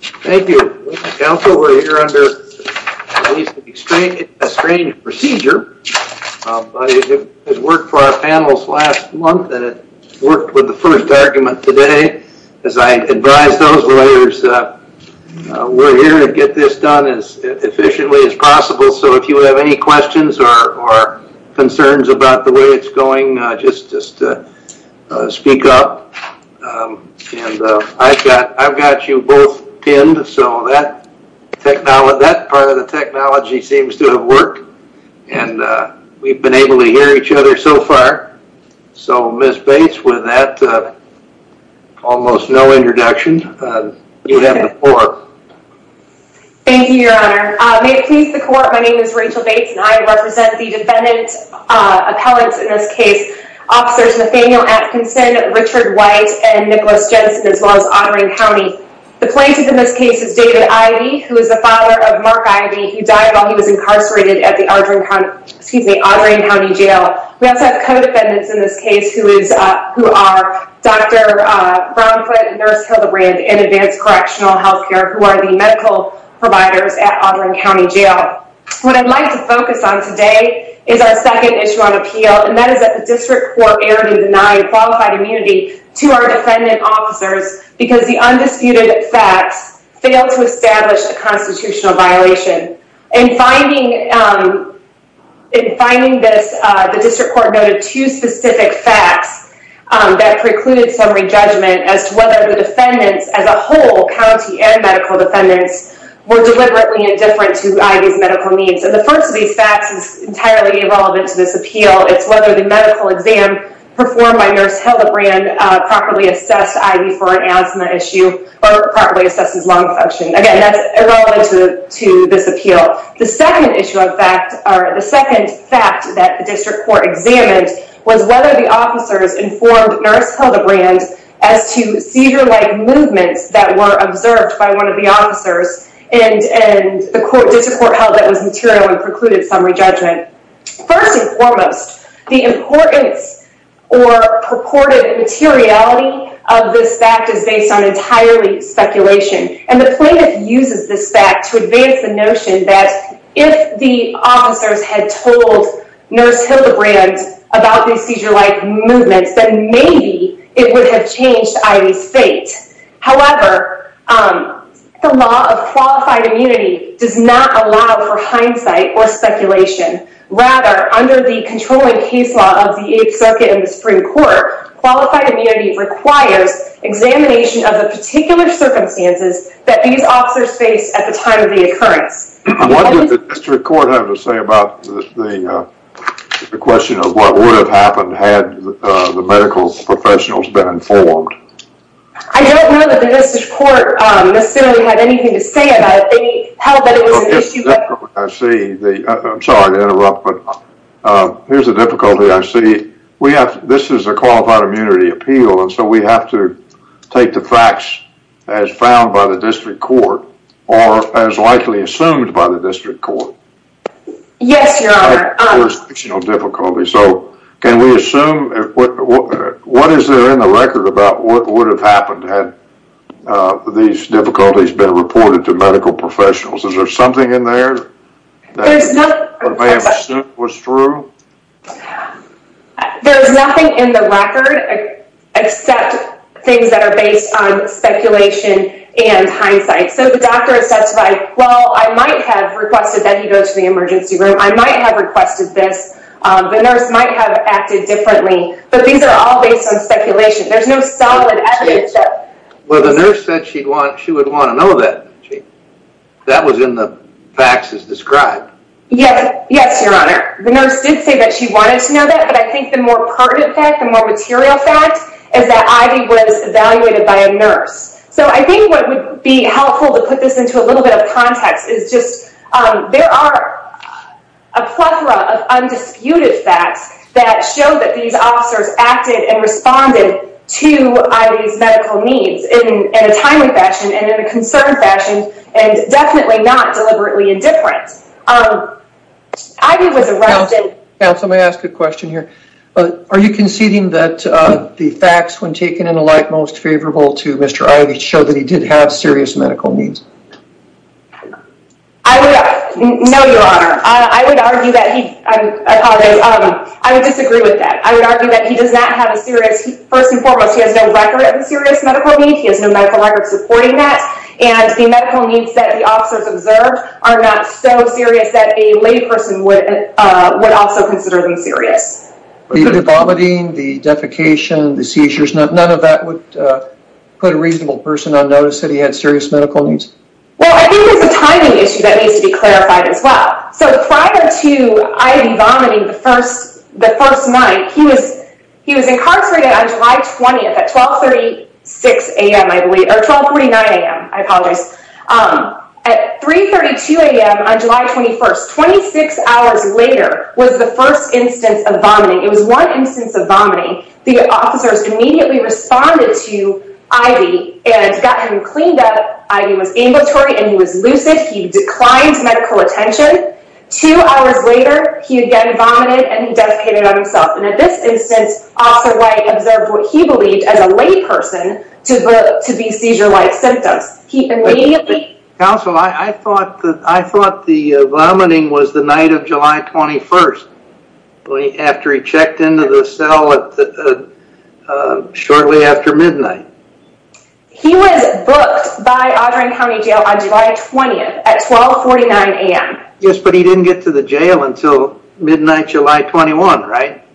Thank you. We're here under at least a strange procedure, but it worked for our panels last month and it worked with the first argument today. As I advise those lawyers, we're here to get this done as efficiently as possible, so if you have any questions or concerns about the way it's going, just speak up. I've got you both pinned, so that part of the technology seems to have worked and we've been able to hear each other so far. So Ms. Bates, with that almost no introduction, you have the floor. Thank you, Your Honor. May it please the Court, my name is Rachel Bates and I represent the defendant's appellants in this case, Officers Nathaniel Atkinson, Richard White, and Nicholas Jensen, as well as Audrain County. The plaintiff in this case is David Ivey, who is the father of Mark Ivey, who died while he was incarcerated at the Audrain County Jail. We also have co-defendants in this case who are Dr. Brownfoot and Nurse Hilda Rand in Advanced Correctional Health Care, who are the medical providers at Audrain County Jail. What I'd like to focus on today is our second issue on appeal, and that is that the District Court erred in denying qualified immunity to our defendant officers because the undisputed facts failed to establish a constitutional violation. In finding this, the District Court noted two specific facts that precluded some re-judgment as to whether the defendants as a whole, county and medical defendants, were deliberately indifferent to Ivey's medical needs. The first of these facts is entirely irrelevant to this appeal. It's whether the medical exam performed by Nurse Hilda Rand properly assessed Ivey for an asthma issue, or properly assessed his lung function. Again, that's irrelevant to this appeal. The second issue of fact, or the second fact that the officers informed Nurse Hilda Rand as to seizure-like movements that were observed by one of the officers, and the District Court held that was material and precluded some re-judgment. First and foremost, the importance or purported materiality of this fact is based on entirely speculation. The plaintiff uses this fact to advance the notion that if the officers had told Nurse Hilda Rand about these seizure-like movements, then maybe it would have changed Ivey's fate. However, the law of qualified immunity does not allow for hindsight or speculation. Rather, under the controlling case law of the Eighth Circuit and the Supreme Court, qualified immunity requires examination of the particular circumstances that these officers faced at the time of the occurrence. What did the District Court have to say about the question of what would have happened had the medical professionals been informed? I don't know that the District Court necessarily had anything to say about it. They held that it was an issue. I see. I'm sorry to interrupt, but here's the difficulty I see. This is a qualified immunity appeal, and so we have to take the facts as found by the District Court, or as likely assumed by the District Court. Yes, Your Honor. There's no difficulty, so can we assume, what is there in the record about what would have happened had these difficulties been reported to medical professionals? Is there something in there was true? There's nothing in the record except things that are based on speculation and hindsight, so the doctor has testified, well, I might have requested that he go to the emergency room. I might have requested this. The nurse might have acted differently, but these are all based on speculation. There's no solid evidence. Well, the nurse said she'd want, she would want to know that. That was in the facts as described. Yes, Your Honor. The nurse did say that she wanted to know that, but I think the more pertinent fact, the more material fact, is that Ivy was evaluated by a nurse, so I think what would be helpful to put this into a little bit of context is just, there are a plethora of undisputed facts that show that these officers acted and responded to Ivy's medical needs in a timely fashion and in a concerned fashion, and definitely not deliberately indifferent. Ivy was arrested. Now, somebody asked a question here. Are you conceding that the facts, when taken in a light, most favorable to Mr. Ivy show that he did have serious medical needs? I would, no, Your Honor. I would argue that he, I apologize, I would disagree with that. I would argue that he does not have a serious, first and foremost, he has no record of a serious medical need. He has no medical record supporting that, and the medical needs that the officers observed are not so serious that a lay person would also consider them serious. The vomiting, the defecation, the seizures, none of that would put a reasonable person on notice that he had serious medical needs? Well, I think there's a timing issue that needs to be clarified as well. So, prior to Ivy vomiting the first night, he was incarcerated on July 20th at 1239 AM, I apologize, at 332 AM on July 21st, 26 hours later was the first instance of vomiting. It was one instance of vomiting. The officers immediately responded to Ivy and got him cleaned up. Ivy was ambulatory and he was lucid. He declined medical attention. Two hours later, he again vomited and he defecated on himself. And at this instance, Officer White observed what he believed as a lay person to be seizure-like symptoms. Counsel, I thought the vomiting was the night of July 21st, after he checked into the cell shortly after midnight. He was booked by Audren County Jail on July 20th at 1249 AM. Yes, but he didn't get to the jail until midnight July 21, right?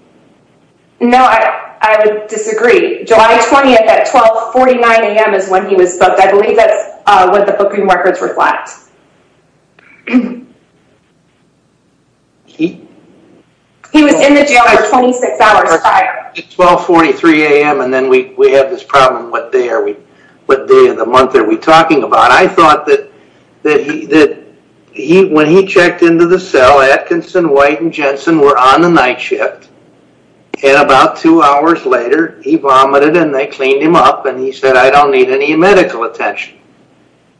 No, I would disagree. July 20th at 1249 AM is when he was booked. I believe that's what the booking records reflect. He was in the jail for 26 hours prior. 1243 AM and then we have this problem, what day of the month are we talking about? I thought that that when he checked into the cell, Atkinson, White, and Jensen were on the night shift. And about two hours later, he vomited and they cleaned him up and he said, I don't need any medical attention.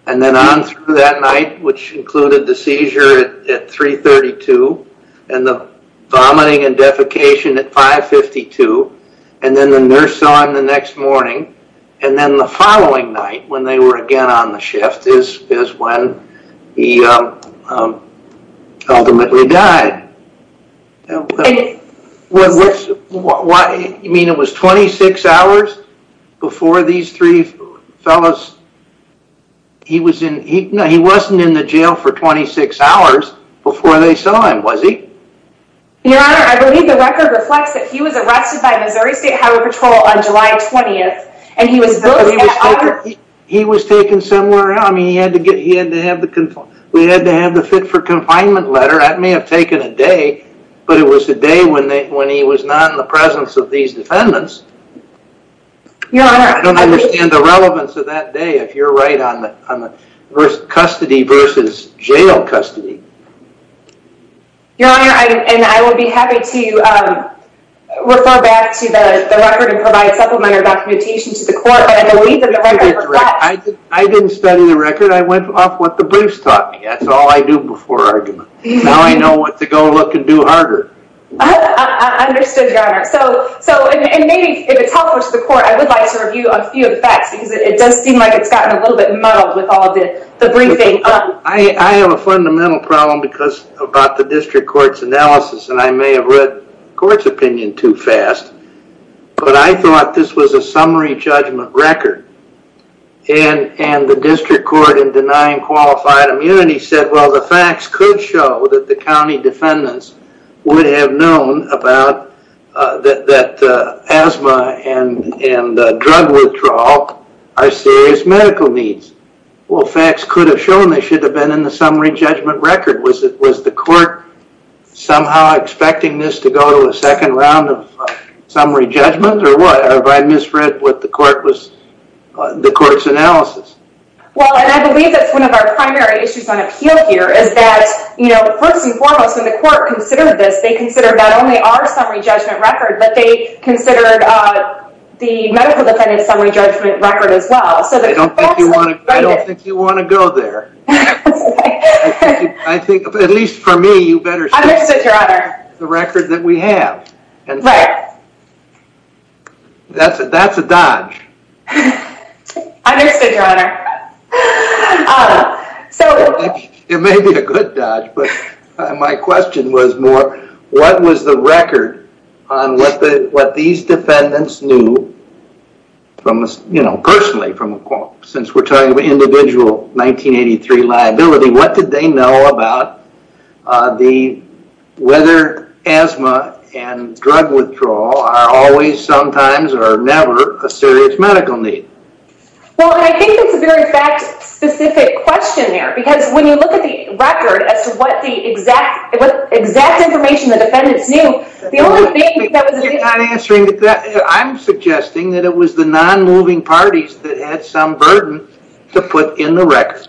And then on through that night, which included the seizure at 332 and the vomiting and defecation at 552. And then the nurse saw him the next morning. And then the following night when they were again on the shift is when he ultimately died. You mean it was 26 hours before these three fellas, he wasn't in the jail for 26 hours before they saw him, was he? Your Honor, I believe the record reflects that he was booked. He was taken somewhere. We had to have the fit for confinement letter. That may have taken a day, but it was a day when he was not in the presence of these defendants. I don't understand the relevance of that day if you're right on the custody versus jail custody. Your Honor, and I would be happy to refer back to the record and provide supplementary documentation to the court. I didn't study the record. I went off what the briefs taught me. That's all I do before argument. Now I know what to go look and do harder. Understood, Your Honor. So, and maybe if it's helpful to the court, I would like to review a few of the facts because it does seem like it's gotten a little bit muddled with all of the briefing. I have a fundamental problem because about the district court's analysis, and I may have read court's opinion too fast, but I thought this was a summary judgment record. And the district court in denying qualified immunity said, well, the facts could show that the county defendants would have known about that asthma and drug withdrawal are serious medical needs. Well, facts could have shown they should have been in the summary judgment record. Was it, was the court somehow expecting this to go to a second round of summary judgment or what? Have I misread what the court was, the court's analysis? Well, and I believe that's one of our primary issues on appeal here is that, you know, first and foremost, when the court considered this, they considered not only our summary judgment record, but they considered the medical defendant's summary judgment record as I don't think you want to go there. I think at least for me, you better the record that we have. And that's a, that's a dodge. It may be a good dodge, but my question was more, what was the record on what the, what these since we're talking about individual 1983 liability, what did they know about the, whether asthma and drug withdrawal are always, sometimes, or never a serious medical need? Well, I think it's a very fact specific question there, because when you look at the record as to what the exact, exact information the defendants knew, the only thing that was suggesting that it was the non-moving parties that had some burden to put in the record.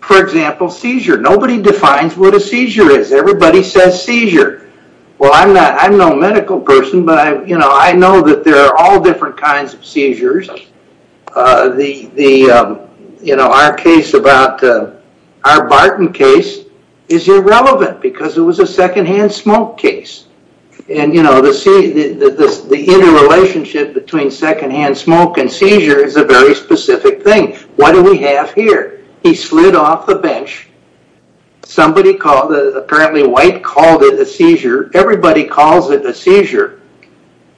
For example, seizure. Nobody defines what a seizure is. Everybody says seizure. Well, I'm not, I'm no medical person, but I, you know, I know that there are all different kinds of seizures. The, the, you know, our case about our Barton case is irrelevant because it between secondhand smoke and seizure is a very specific thing. What do we have here? He slid off the bench. Somebody called, apparently White called it a seizure. Everybody calls it a seizure,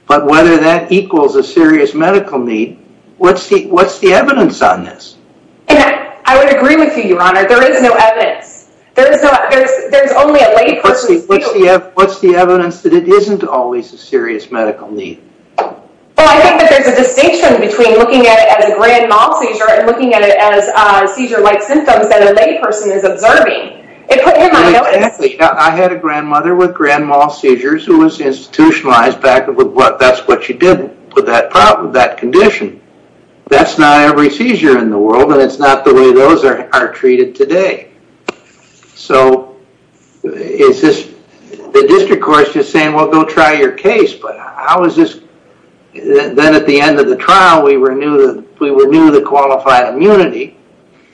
but whether that equals a serious medical need, what's the, what's the evidence on this? I would agree with you, your honor. There is no evidence. There is no, there's, there's only a lay person. What's the evidence that it isn't always a serious medical need? Well, I think that there's a distinction between looking at it as a grand mal seizure and looking at it as a seizure-like symptoms that a lay person is observing. It put him on notice. I had a grandmother with grand mal seizures who was institutionalized back with what, that's what she did with that problem, that condition. That's not every seizure in the world and it's not the way those are, are treated today. So is this, the district court's just then at the end of the trial, we renew the, we renew the qualified immunity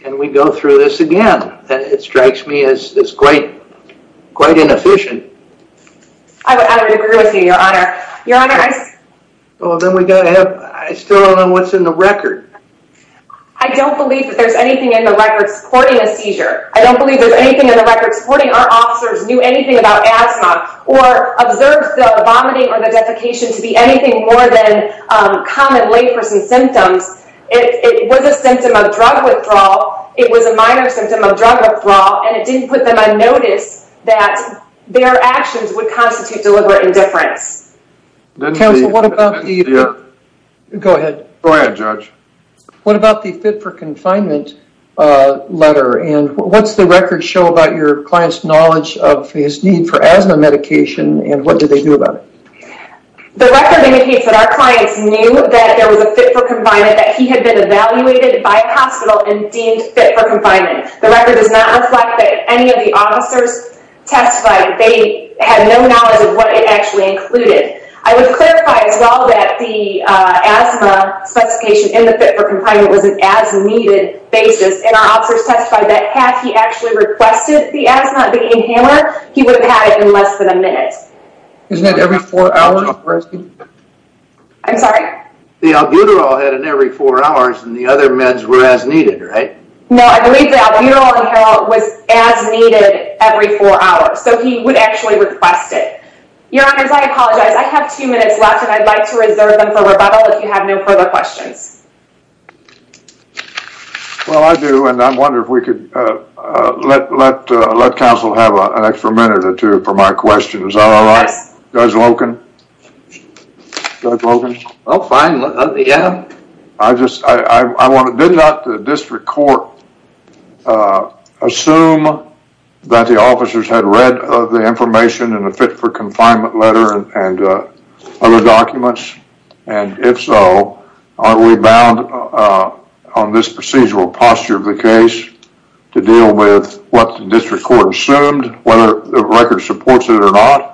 and we go through this again. It strikes me as quite, quite inefficient. I would agree with you, your honor. Your honor, I... Well, then we gotta have, I still don't know what's in the record. I don't believe that there's anything in the record supporting a seizure. I don't believe there's anything in the record supporting our officers knew anything about asthma or observed the vomiting or the defecation to be anything more than common lay person symptoms. It was a symptom of drug withdrawal. It was a minor symptom of drug withdrawal, and it didn't put them on notice that their actions would constitute deliberate indifference. Counsel, what about the... Go ahead. Go ahead, judge. What about the fit for confinement letter and what's the record show about your client's knowledge of his need for asthma medication and what did they do about it? The record indicates that our clients knew that there was a fit for confinement, that he had been evaluated by a hospital and deemed fit for confinement. The record does not reflect that any of the officers testified. They had no knowledge of what it actually included. I would clarify as well that the asthma specification in the fit for confinement was an as needed basis and our officers testified that had he actually requested the asthma inhaler, he would have had it in less than a minute. Isn't that every four hours? I'm sorry? The albuterol had an every four hours and the other meds were as needed, right? No, I believe the albuterol inhaler was as needed every four hours. So he would actually request it. Your honors, I apologize. I have two minutes left and I'd like to reserve them for rebuttal if you have no further questions. Well, I do and I wonder if we could let counsel have an extra minute or two for my question. Is that all right? Judge Loken? Judge Loken? Oh, fine. Yeah. I just, I want to, did not the district court assume that the officers had read the information in the fit for confinement letter and other documents? And if so, aren't we bound on this procedural posture of the case to deal with what the district court assumed, whether the record supports it or not?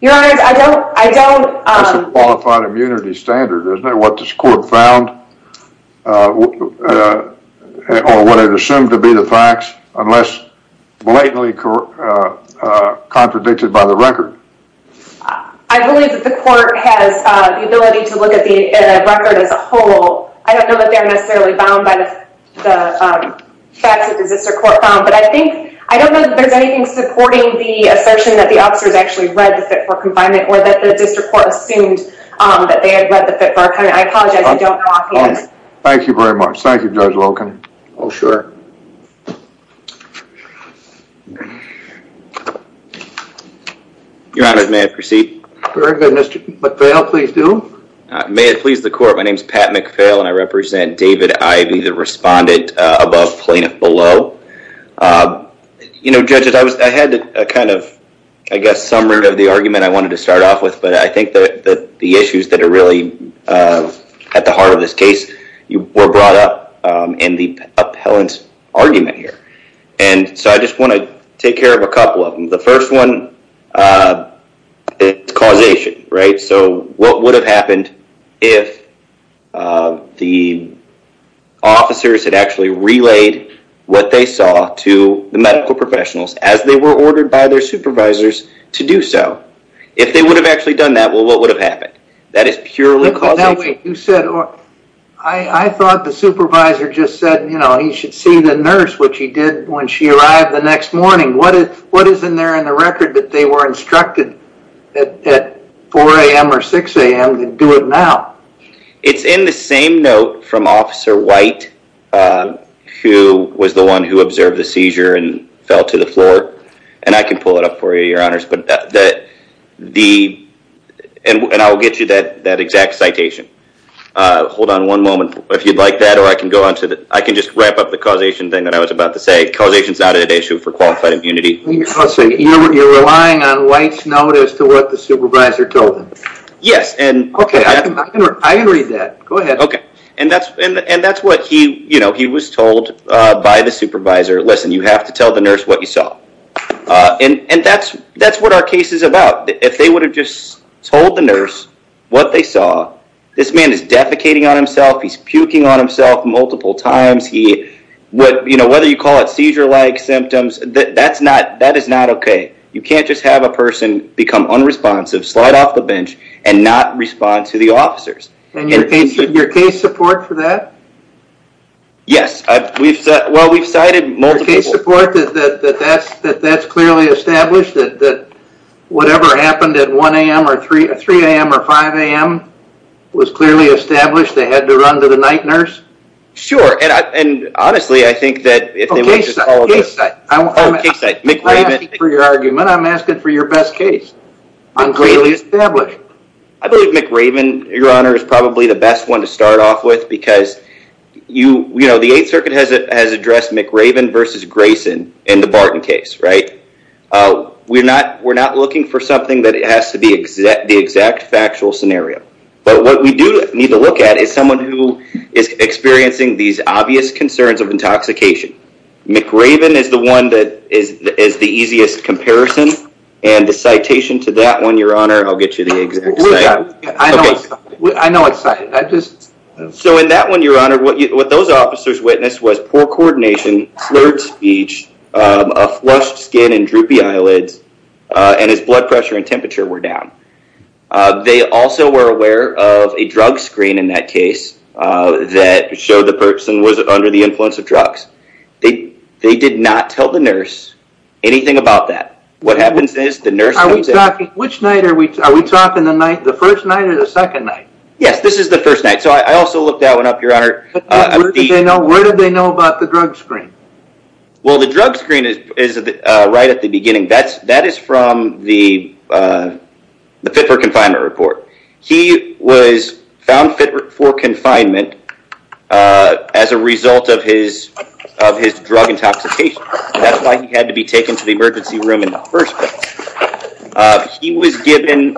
Your honors, I don't, I don't. That's a qualified immunity standard, isn't it? What this court found or what it assumed to be the facts unless blatantly contradicted by the record. I believe that the court has the ability to look at the record as a whole. I don't know that they're necessarily bound by the facts that the district court found, but I think, I don't know that there's anything supporting the assertion that the officers actually read the fit for confinement or that the district court assumed that they had read the fit for confinement. I apologize if you don't know offhand. Thank you very much. Thank you, Judge Loken. Oh, sure. Your honors, may I proceed? Very good, Mr. McPhail, please do. May it please the court. My name is Pat McPhail and I represent David Ivey, the respondent above, plaintiff below. You know, judges, I was, I had a kind of, I guess, summary of the argument I wanted to start off with, but I think that the issues that are really at the heart of this case were brought up in the appellant's brief. And so, I just want to take care of a couple of them. The first one, it's causation, right? So, what would have happened if the officers had actually relayed what they saw to the medical professionals as they were ordered by their supervisors to do so? If they would have actually done that, well, what would have happened? That is purely causation. You said, I thought the supervisor just said, you know, he should see the nurse, which he did when she arrived the next morning. What is in there in the record that they were instructed at 4 a.m. or 6 a.m. to do it now? It's in the same note from Officer White, who was the one who observed the seizure and fell to the floor. And I can pull it up for you, your honors. And I'll get you that exact citation. Hold on one moment, if you'd like that, or I can just wrap up the causation thing that I was about to say. Causation is not an issue for qualified immunity. You're relying on White's note as to what the supervisor told him? Yes. Okay, I can read that. Go ahead. Okay. And that's what he was told by the supervisor. Listen, you have to tell the nurse what you saw. And that's what our case is about. If they would have just told the nurse what they saw, this man is defecating on himself, he's puking on himself multiple times. Whether you call it seizure-like symptoms, that is not okay. You can't just have a person become unresponsive, slide off the bench, and not respond to the officers. And your case support for that? Yes. Well, we've cited multiple. That that's clearly established that whatever happened at 1 a.m. or 3 a.m. or 5 a.m. was clearly established. They had to run to the night nurse. Sure. And honestly, I think that if they would have just followed up. Oh, case site. McRaven. I'm not asking for your argument. I'm asking for your best case. I'm clearly established. I believe McRaven, Your Honor, is probably the best one to start off with because you know, the 8th Circuit has addressed McRaven versus Grayson in the Barton case, right? We're not looking for something that has to be the exact factual scenario. But what we do need to look at is someone who is experiencing these obvious concerns of intoxication. McRaven is the one that is the easiest comparison. And the citation to that one, Your Honor, I'll get you the exact citation. I know it's cited. So in that one, Your Honor, what those officers witnessed was poor coordination, slurred speech, a flushed skin and droopy eyelids, and his blood pressure and temperature were down. They also were aware of a drug screen in that case that showed the person was under the influence of drugs. They did not tell the nurse anything about that. What happens is the nurse comes in. Which night are we talking? The first night or the second night? Yes, this is the first night. So I also looked that one up, Your Honor. Where did they know about the drug screen? Well, the drug screen is right at the beginning. That is from the Fit for Confinement report. He was found fit for confinement as a result of his drug intoxication. That's why he had to be taken to the emergency room in the first place. He was given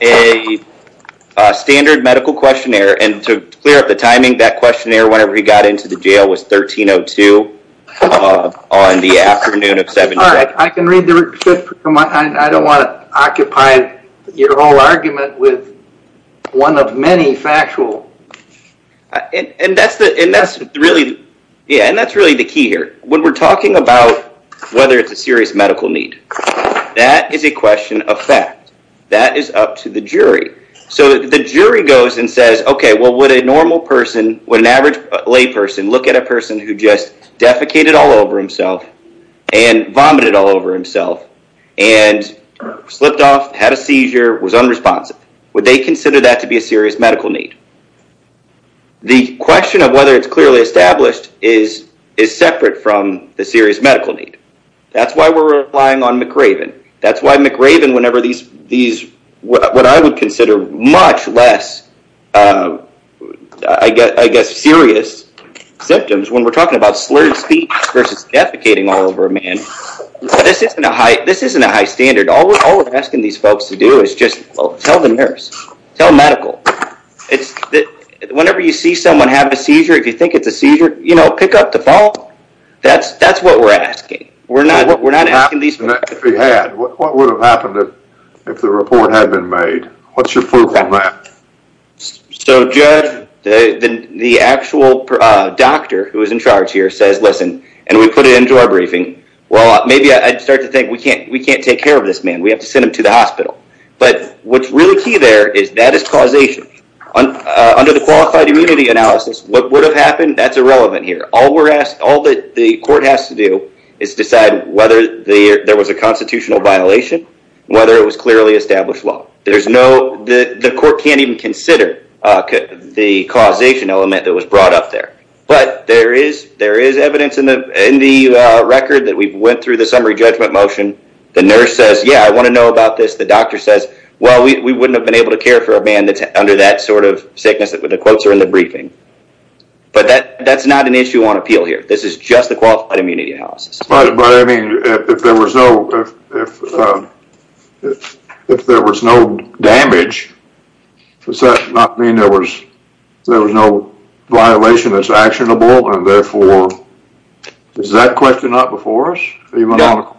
a standard medical questionnaire. And to clear up the timing, that questionnaire, whenever he got into the jail, was 1302 on the afternoon of 7 July. I can read the report. I don't want to occupy your whole argument with one of many factual. And that's really the key here. When we're talking about whether it's a serious medical need, that is a question of fact. That is up to the jury. So the jury goes and says, OK, well, would a normal person, would an average layperson look at a person who just defecated all over himself and vomited all over himself and slipped off, had a seizure, was unresponsive? Would they consider that to be a serious medical need? The question of whether it's clearly established is separate from the serious medical need. That's why we're relying on McRaven. That's why McRaven, whenever these, what I would consider much less, I guess, serious symptoms when we're talking about slurred speech versus defecating all over a man. This isn't a high standard. All we're asking these folks to do is just tell the nurse, tell medical. Whenever you see someone have a seizure, if you think it's a seizure, pick up the phone. That's what we're asking. What would have happened if the report had been made? What's your proof on that? So, Judge, the actual doctor who is in charge here says, listen, and we put it into our briefing, well, maybe I'd start to think we can't take care of this man. We have to send him to the hospital. But what's really key there is that is causation. Under the qualified immunity analysis, what would have happened, that's irrelevant here. All that the court has to do is decide whether there was a constitutional violation, whether it was clearly established law. There's no, the court can't even consider the causation element that was brought up there. But there is evidence in the record that we've went through the summary judgment motion. The nurse says, yeah, I want to know about this. The doctor says, well, we wouldn't have been able to care for a man that's under that sort of sickness. The quotes are in the briefing. But that's not an issue on appeal here. This is just the qualified immunity analysis. But I mean, if there was no damage, does that not mean there was no violation that's actionable and therefore, is that question not before us? No. No,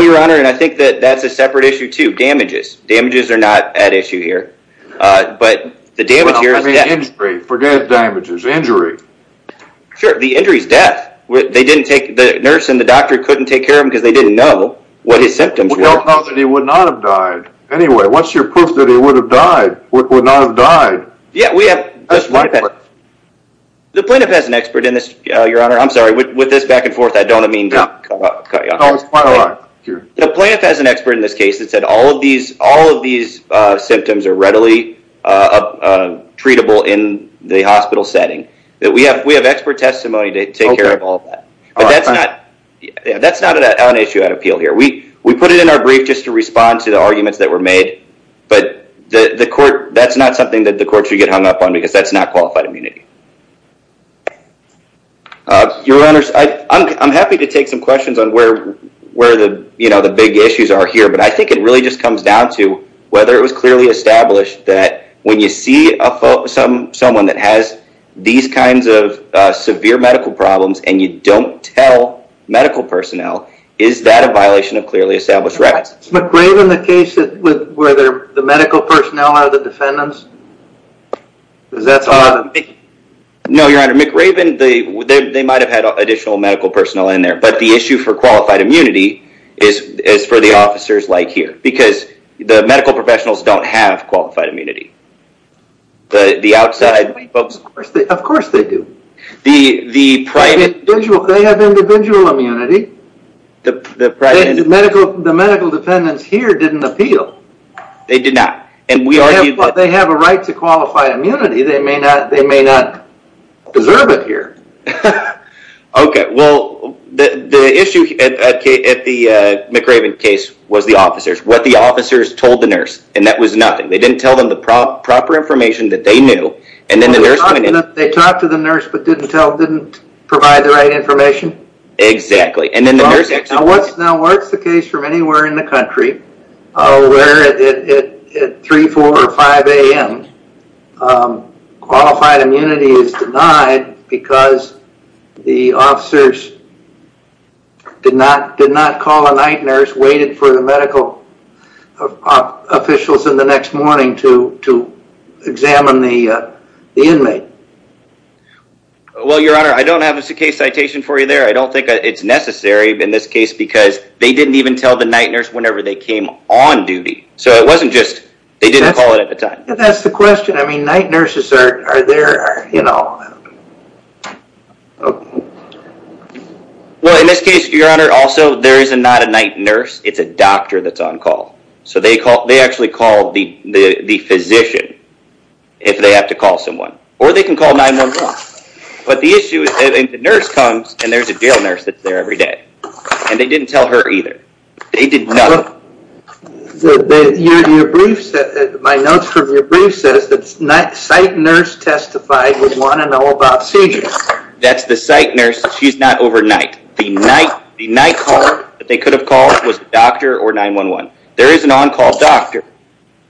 Your Honor, and I think that that's a separate issue too. Damages. Damages are not at issue here. But the damage here is death. I mean, injury. Forget damages. Injury. Sure. The injury is death. They didn't take, the nurse and the doctor couldn't take care of him because they didn't know what his symptoms were. We don't know that he would not have died. Anyway, what's your proof that he would have died, would not have died? Yeah, we have. The plaintiff has an expert in this, Your Honor. I'm sorry, with this back and forth, I don't mean to cut you off. No, it's fine. The plaintiff has an expert in this case that said all of these symptoms are readily treatable in the hospital setting. That we have, we have expert testimony to take care of all that. But that's not, that's not an issue at appeal here. We, we put it in our brief just to respond to the arguments that were made. But the court, that's not something that the court should get hung up on because that's not qualified immunity. Your Honor, I'm happy to take some questions on where, where the, you know, the big issues are here. But I think it really just comes down to whether it was clearly established that when you see someone that has these kinds of severe medical problems and you don't tell medical personnel, is that a violation of clearly established rights? Is McRaven the case that, where the medical personnel are the defendants? Because that's hard. No, Your Honor. McRaven, they, they might have had additional medical personnel in there. But the issue for qualified immunity is, is for the officers like here. Because the medical professionals don't have qualified immunity. The, the outside folks... Of course they do. The, the private... They have individual immunity. The, the private... Medical, the medical defendants here didn't appeal. They did not. And we argue... They have a right to qualified immunity. They may not, they may not deserve it here. Okay. Well, the, the issue at the McRaven case was the officers. What the officers told the nurse. And that was nothing. They didn't tell them the proper information that they knew. And then the nurse... They talked to the nurse, but didn't tell, didn't provide the right information. Exactly. And then the nurse actually... Now what's, now what's the case from anywhere in the country, where at 3, 4, or 5 a.m., qualified immunity is denied because the officers did not, did not call a night nurse. Waited for the medical officials in the next morning to, to examine the, the inmate. Well, your honor, I don't have a case citation for you there. I don't think it's necessary in this case. Because they didn't even tell the night nurse whenever they came on duty. So it wasn't just, they didn't call it at the time. That's the question. I mean, night nurses are, are there, are, you know... Well, in this case, your honor, also there is a, not a night nurse. It's a doctor that's on call. So they call, they actually call the, the, the physician. If they have to call someone. Or they can call 911. But the issue is the nurse comes and there's a jail nurse that's there every day. And they didn't tell her either. They did nothing. Well, your, your briefs, my notes from your brief says that night, site nurse testified with one and all about seizures. That's the site nurse. She's not overnight. The night, the night call that they could have called was doctor or 911. There is an on-call doctor.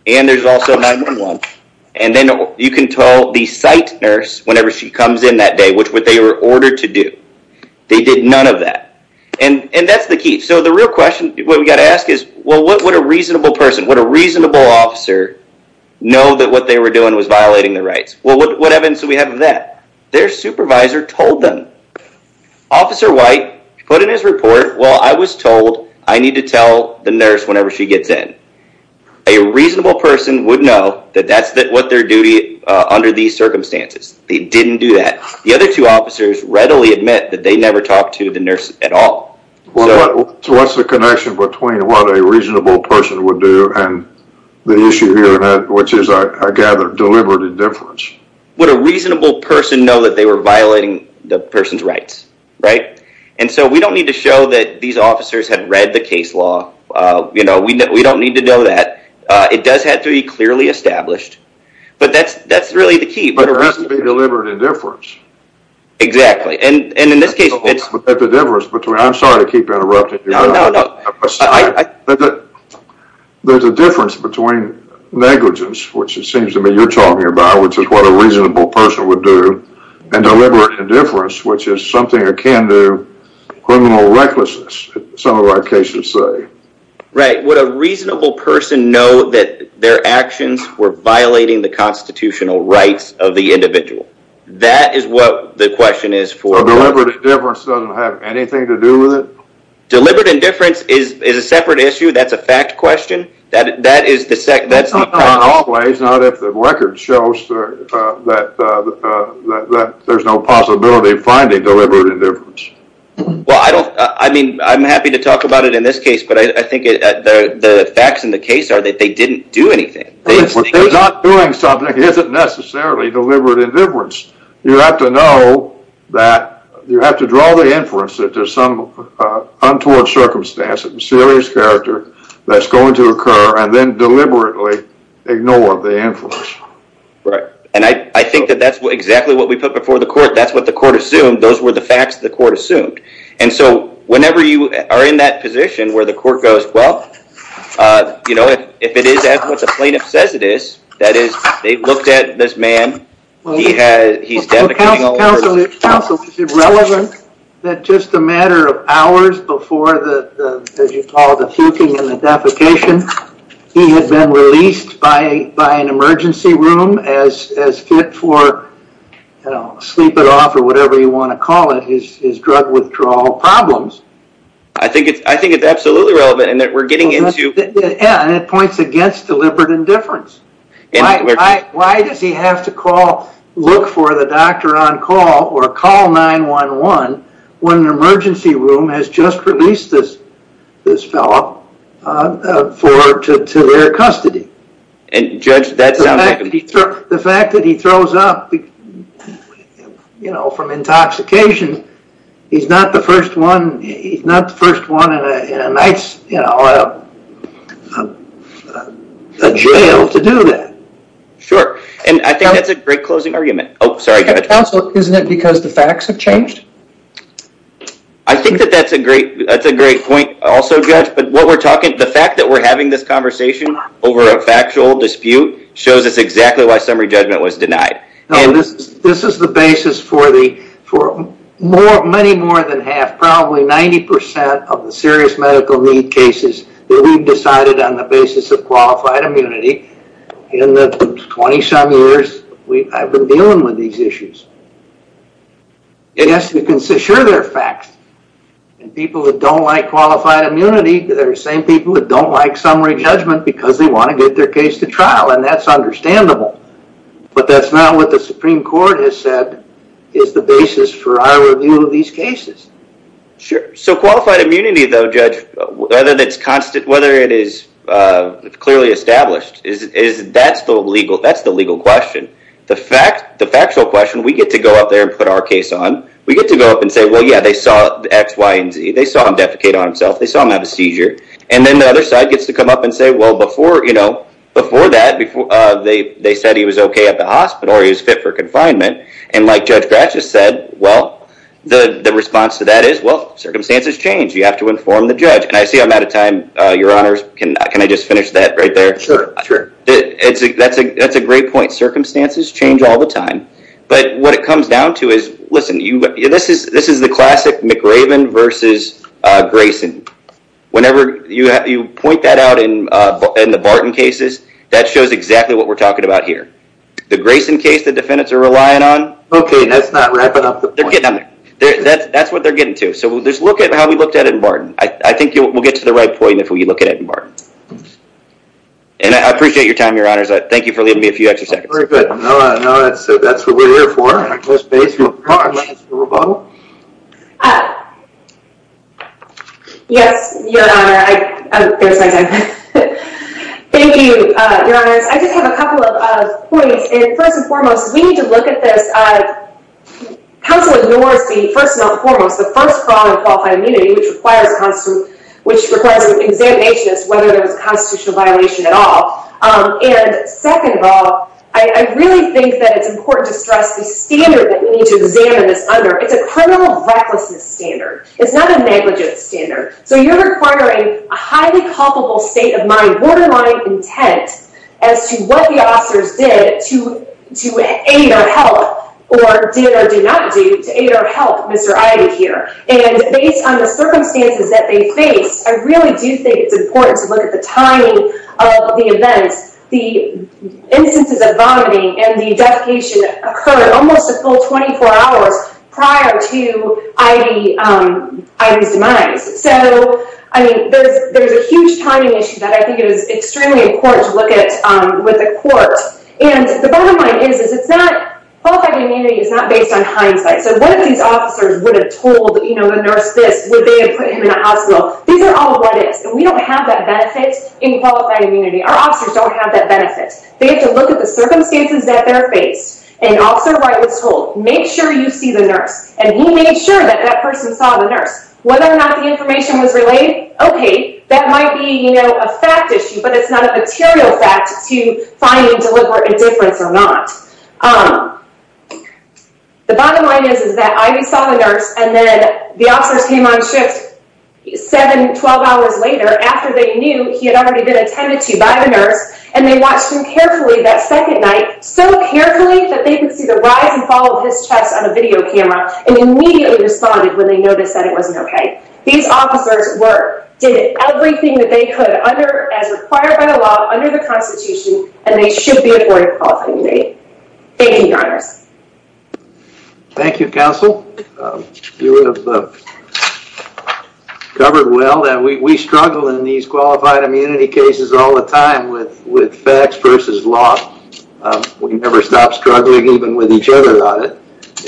And there's also 911. And then you can tell the site nurse whenever she comes in that day, which what they were ordered to do. They did none of that. And, and that's the key. So the real question, what we got to ask is, well, what would a reasonable person, what a reasonable officer know that what they were doing was violating their rights? Well, what, what evidence do we have of that? Their supervisor told them. Officer White put in his report. Well, I was told I need to tell the nurse whenever she gets in. A reasonable person would know that that's what their duty under these circumstances. They didn't do that. The other two officers readily admit that they never talked to the nurse at all. So what's the connection between what a reasonable person would do and the issue here, which is, I gather, deliberate indifference. Would a reasonable person know that they were violating the person's rights? Right? And so we don't need to show that these officers had read the case law. You know, we don't need to know that. It does have to be clearly established. But that's, that's really the key. But it has to be deliberate indifference. Exactly. And in this case, it's. But the difference between, I'm sorry to keep interrupting you. No, no, no. There's a difference between negligence, which it seems to me you're talking about, which is what a reasonable person would do, and deliberate indifference, which is something akin to criminal recklessness, some of our cases say. Right. Would a reasonable person know that their actions were violating the constitutional rights of the individual? That is what the question is for. Deliberate indifference doesn't have anything to do with it? Deliberate indifference is a separate issue. That's a fact question. That is the second. That's not in all ways. Not if the record shows that there's no possibility of finding deliberate indifference. Well, I don't, I mean, I'm happy to talk about it in this case, but I think the facts in the case are that they didn't do anything. They're not doing something that isn't necessarily deliberate indifference. You have to know that you have to draw the inference that there's some untoward circumstance, serious character that's going to occur, and then deliberately ignore the inference. Right. And I think that that's exactly what we put before the court. That's what the court assumed. Those were the facts the court assumed. And so whenever you are in that position where the court goes, uh, you know, if it is as what the plaintiff says it is, that is, they looked at this man. He has, he's defecating all over. Counsel, is it relevant that just a matter of hours before the, as you call it, the fluking and the defecation, he had been released by an emergency room as fit for, you know, sleep it off or whatever you want to call it, his drug withdrawal problems? I think it's absolutely relevant. And that we're getting into. Yeah. And it points against deliberate indifference. Why does he have to call, look for the doctor on call or call 911 when an emergency room has just released this, this fellow, uh, for, to, to their custody. And judge, that sounds like. The fact that he throws up, you know, from intoxication, he's not the first one, he's not the first one in a, in a nice, you know, a jail to do that. Sure. And I think that's a great closing argument. Oh, sorry. Counsel, isn't it because the facts have changed? I think that that's a great, that's a great point also judge, but what we're talking, the fact that we're having this conversation over a factual dispute shows us exactly why summary judgment was denied. This is the basis for the, for more, many more than half, probably 90% of the serious medical need cases that we've decided on the basis of qualified immunity in the 20 some years we've, I've been dealing with these issues. It has to be consistent. Sure, there are facts. And people that don't like qualified immunity, they're the same people that don't like summary judgment because they want to get their case to trial. And that's understandable, but that's not what the Supreme Court has said is the basis for our review of these cases. Sure. So qualified immunity though, judge, whether that's constant, whether it is clearly established is, is that's the legal, that's the legal question. The fact, the factual question, we get to go up there and put our case on, we get to go up and say, well, yeah, they saw X, Y, and Z. They saw him defecate on himself. They saw him have a seizure. And then the other side gets to come up and say, well, before, you know, before that, before they, they said he was okay at the hospital or he was fit for confinement. And like Judge Gratchis said, well, the, the response to that is, well, circumstances change. You have to inform the judge. And I see I'm out of time. Your honors can, can I just finish that right there? Sure, sure. It's a, that's a, that's a great point. Circumstances change all the time, but what it comes down to is, listen, you, this is, this is the classic McRaven versus Grayson. Whenever you have, you point that out in, in the Barton cases, that shows exactly what we're talking about here. The Grayson case, the defendants are relying on. Okay. That's not wrapping up. They're getting on there. That's, that's what they're getting to. So we'll just look at how we looked at it in Barton. I think we'll get to the right point if we look at it in Barton. And I appreciate your time, your honors. Thank you for leaving me a few extra seconds. Very good. No, no, that's, that's what we're here for. Ms. Bates, you have a comment on this rebuttal? Yes, your honor, I, there's my time. Thank you, your honors. I just have a couple of points. And first and foremost, we need to look at this. Counsel ignores the, first and foremost, the first problem of qualified immunity, which requires a constitutional, which requires an examination as to whether there was a constitutional violation at all. And second of all, I, I really think that it's important to stress the standard that we need to examine this under. It's a criminal recklessness standard. It's not a negligence standard. So you're requiring a highly culpable state of mind, borderline intent as to what the officers did to, to aid or help or did or do not do to aid or help Mr. Ivey here. And based on the circumstances that they faced, I really do think it's important to look at the timing of the events. The instances of vomiting and the defecation occurred almost a full 24 hours prior to Ivey, Ivey's demise. So, I mean, there's, there's a huge timing issue that I think it is extremely important to look at with the court. And the bottom line is, is it's not, qualified immunity is not based on hindsight. So what if these officers would have told, you know, the nurse this, would they have put him in a hospital? These are all what is, and we don't have that benefit in qualified immunity. Our officers don't have that benefit. They have to look at the circumstances that they're faced. An officer right was told, make sure you see the nurse. And he made sure that that person saw the nurse. Whether or not the information was relayed, okay, that might be, you know, a fact issue, but it's not a material fact to find a deliberate indifference or not. Um, the bottom line is, is that Ivey saw the nurse and then the officers came on shift seven, 12 hours later after they knew he had already been attended to by the nurse. And they watched him carefully that second night, so carefully that they could see the rise and fall of his chest on a video camera and immediately responded when they noticed that it wasn't okay. These officers were, did everything that they could under, as required by the law, under the constitution, and they should be afforded qualified immunity. Thank you, Your Honors. Thank you, Counsel. You have covered well that we, we struggle in these qualified immunity cases all the time with, with facts versus law. We never stopped struggling even with each other on it.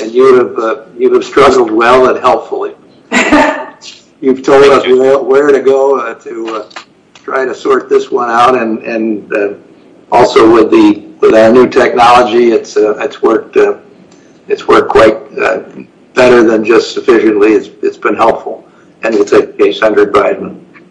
And you have, you have struggled well and helpfully. You've told us where to go to try to sort this one out. And, and also with the, with our new technology, it's, it's worked, it's worked quite better than just sufficiently. It's been helpful. And we'll take a case under Biden.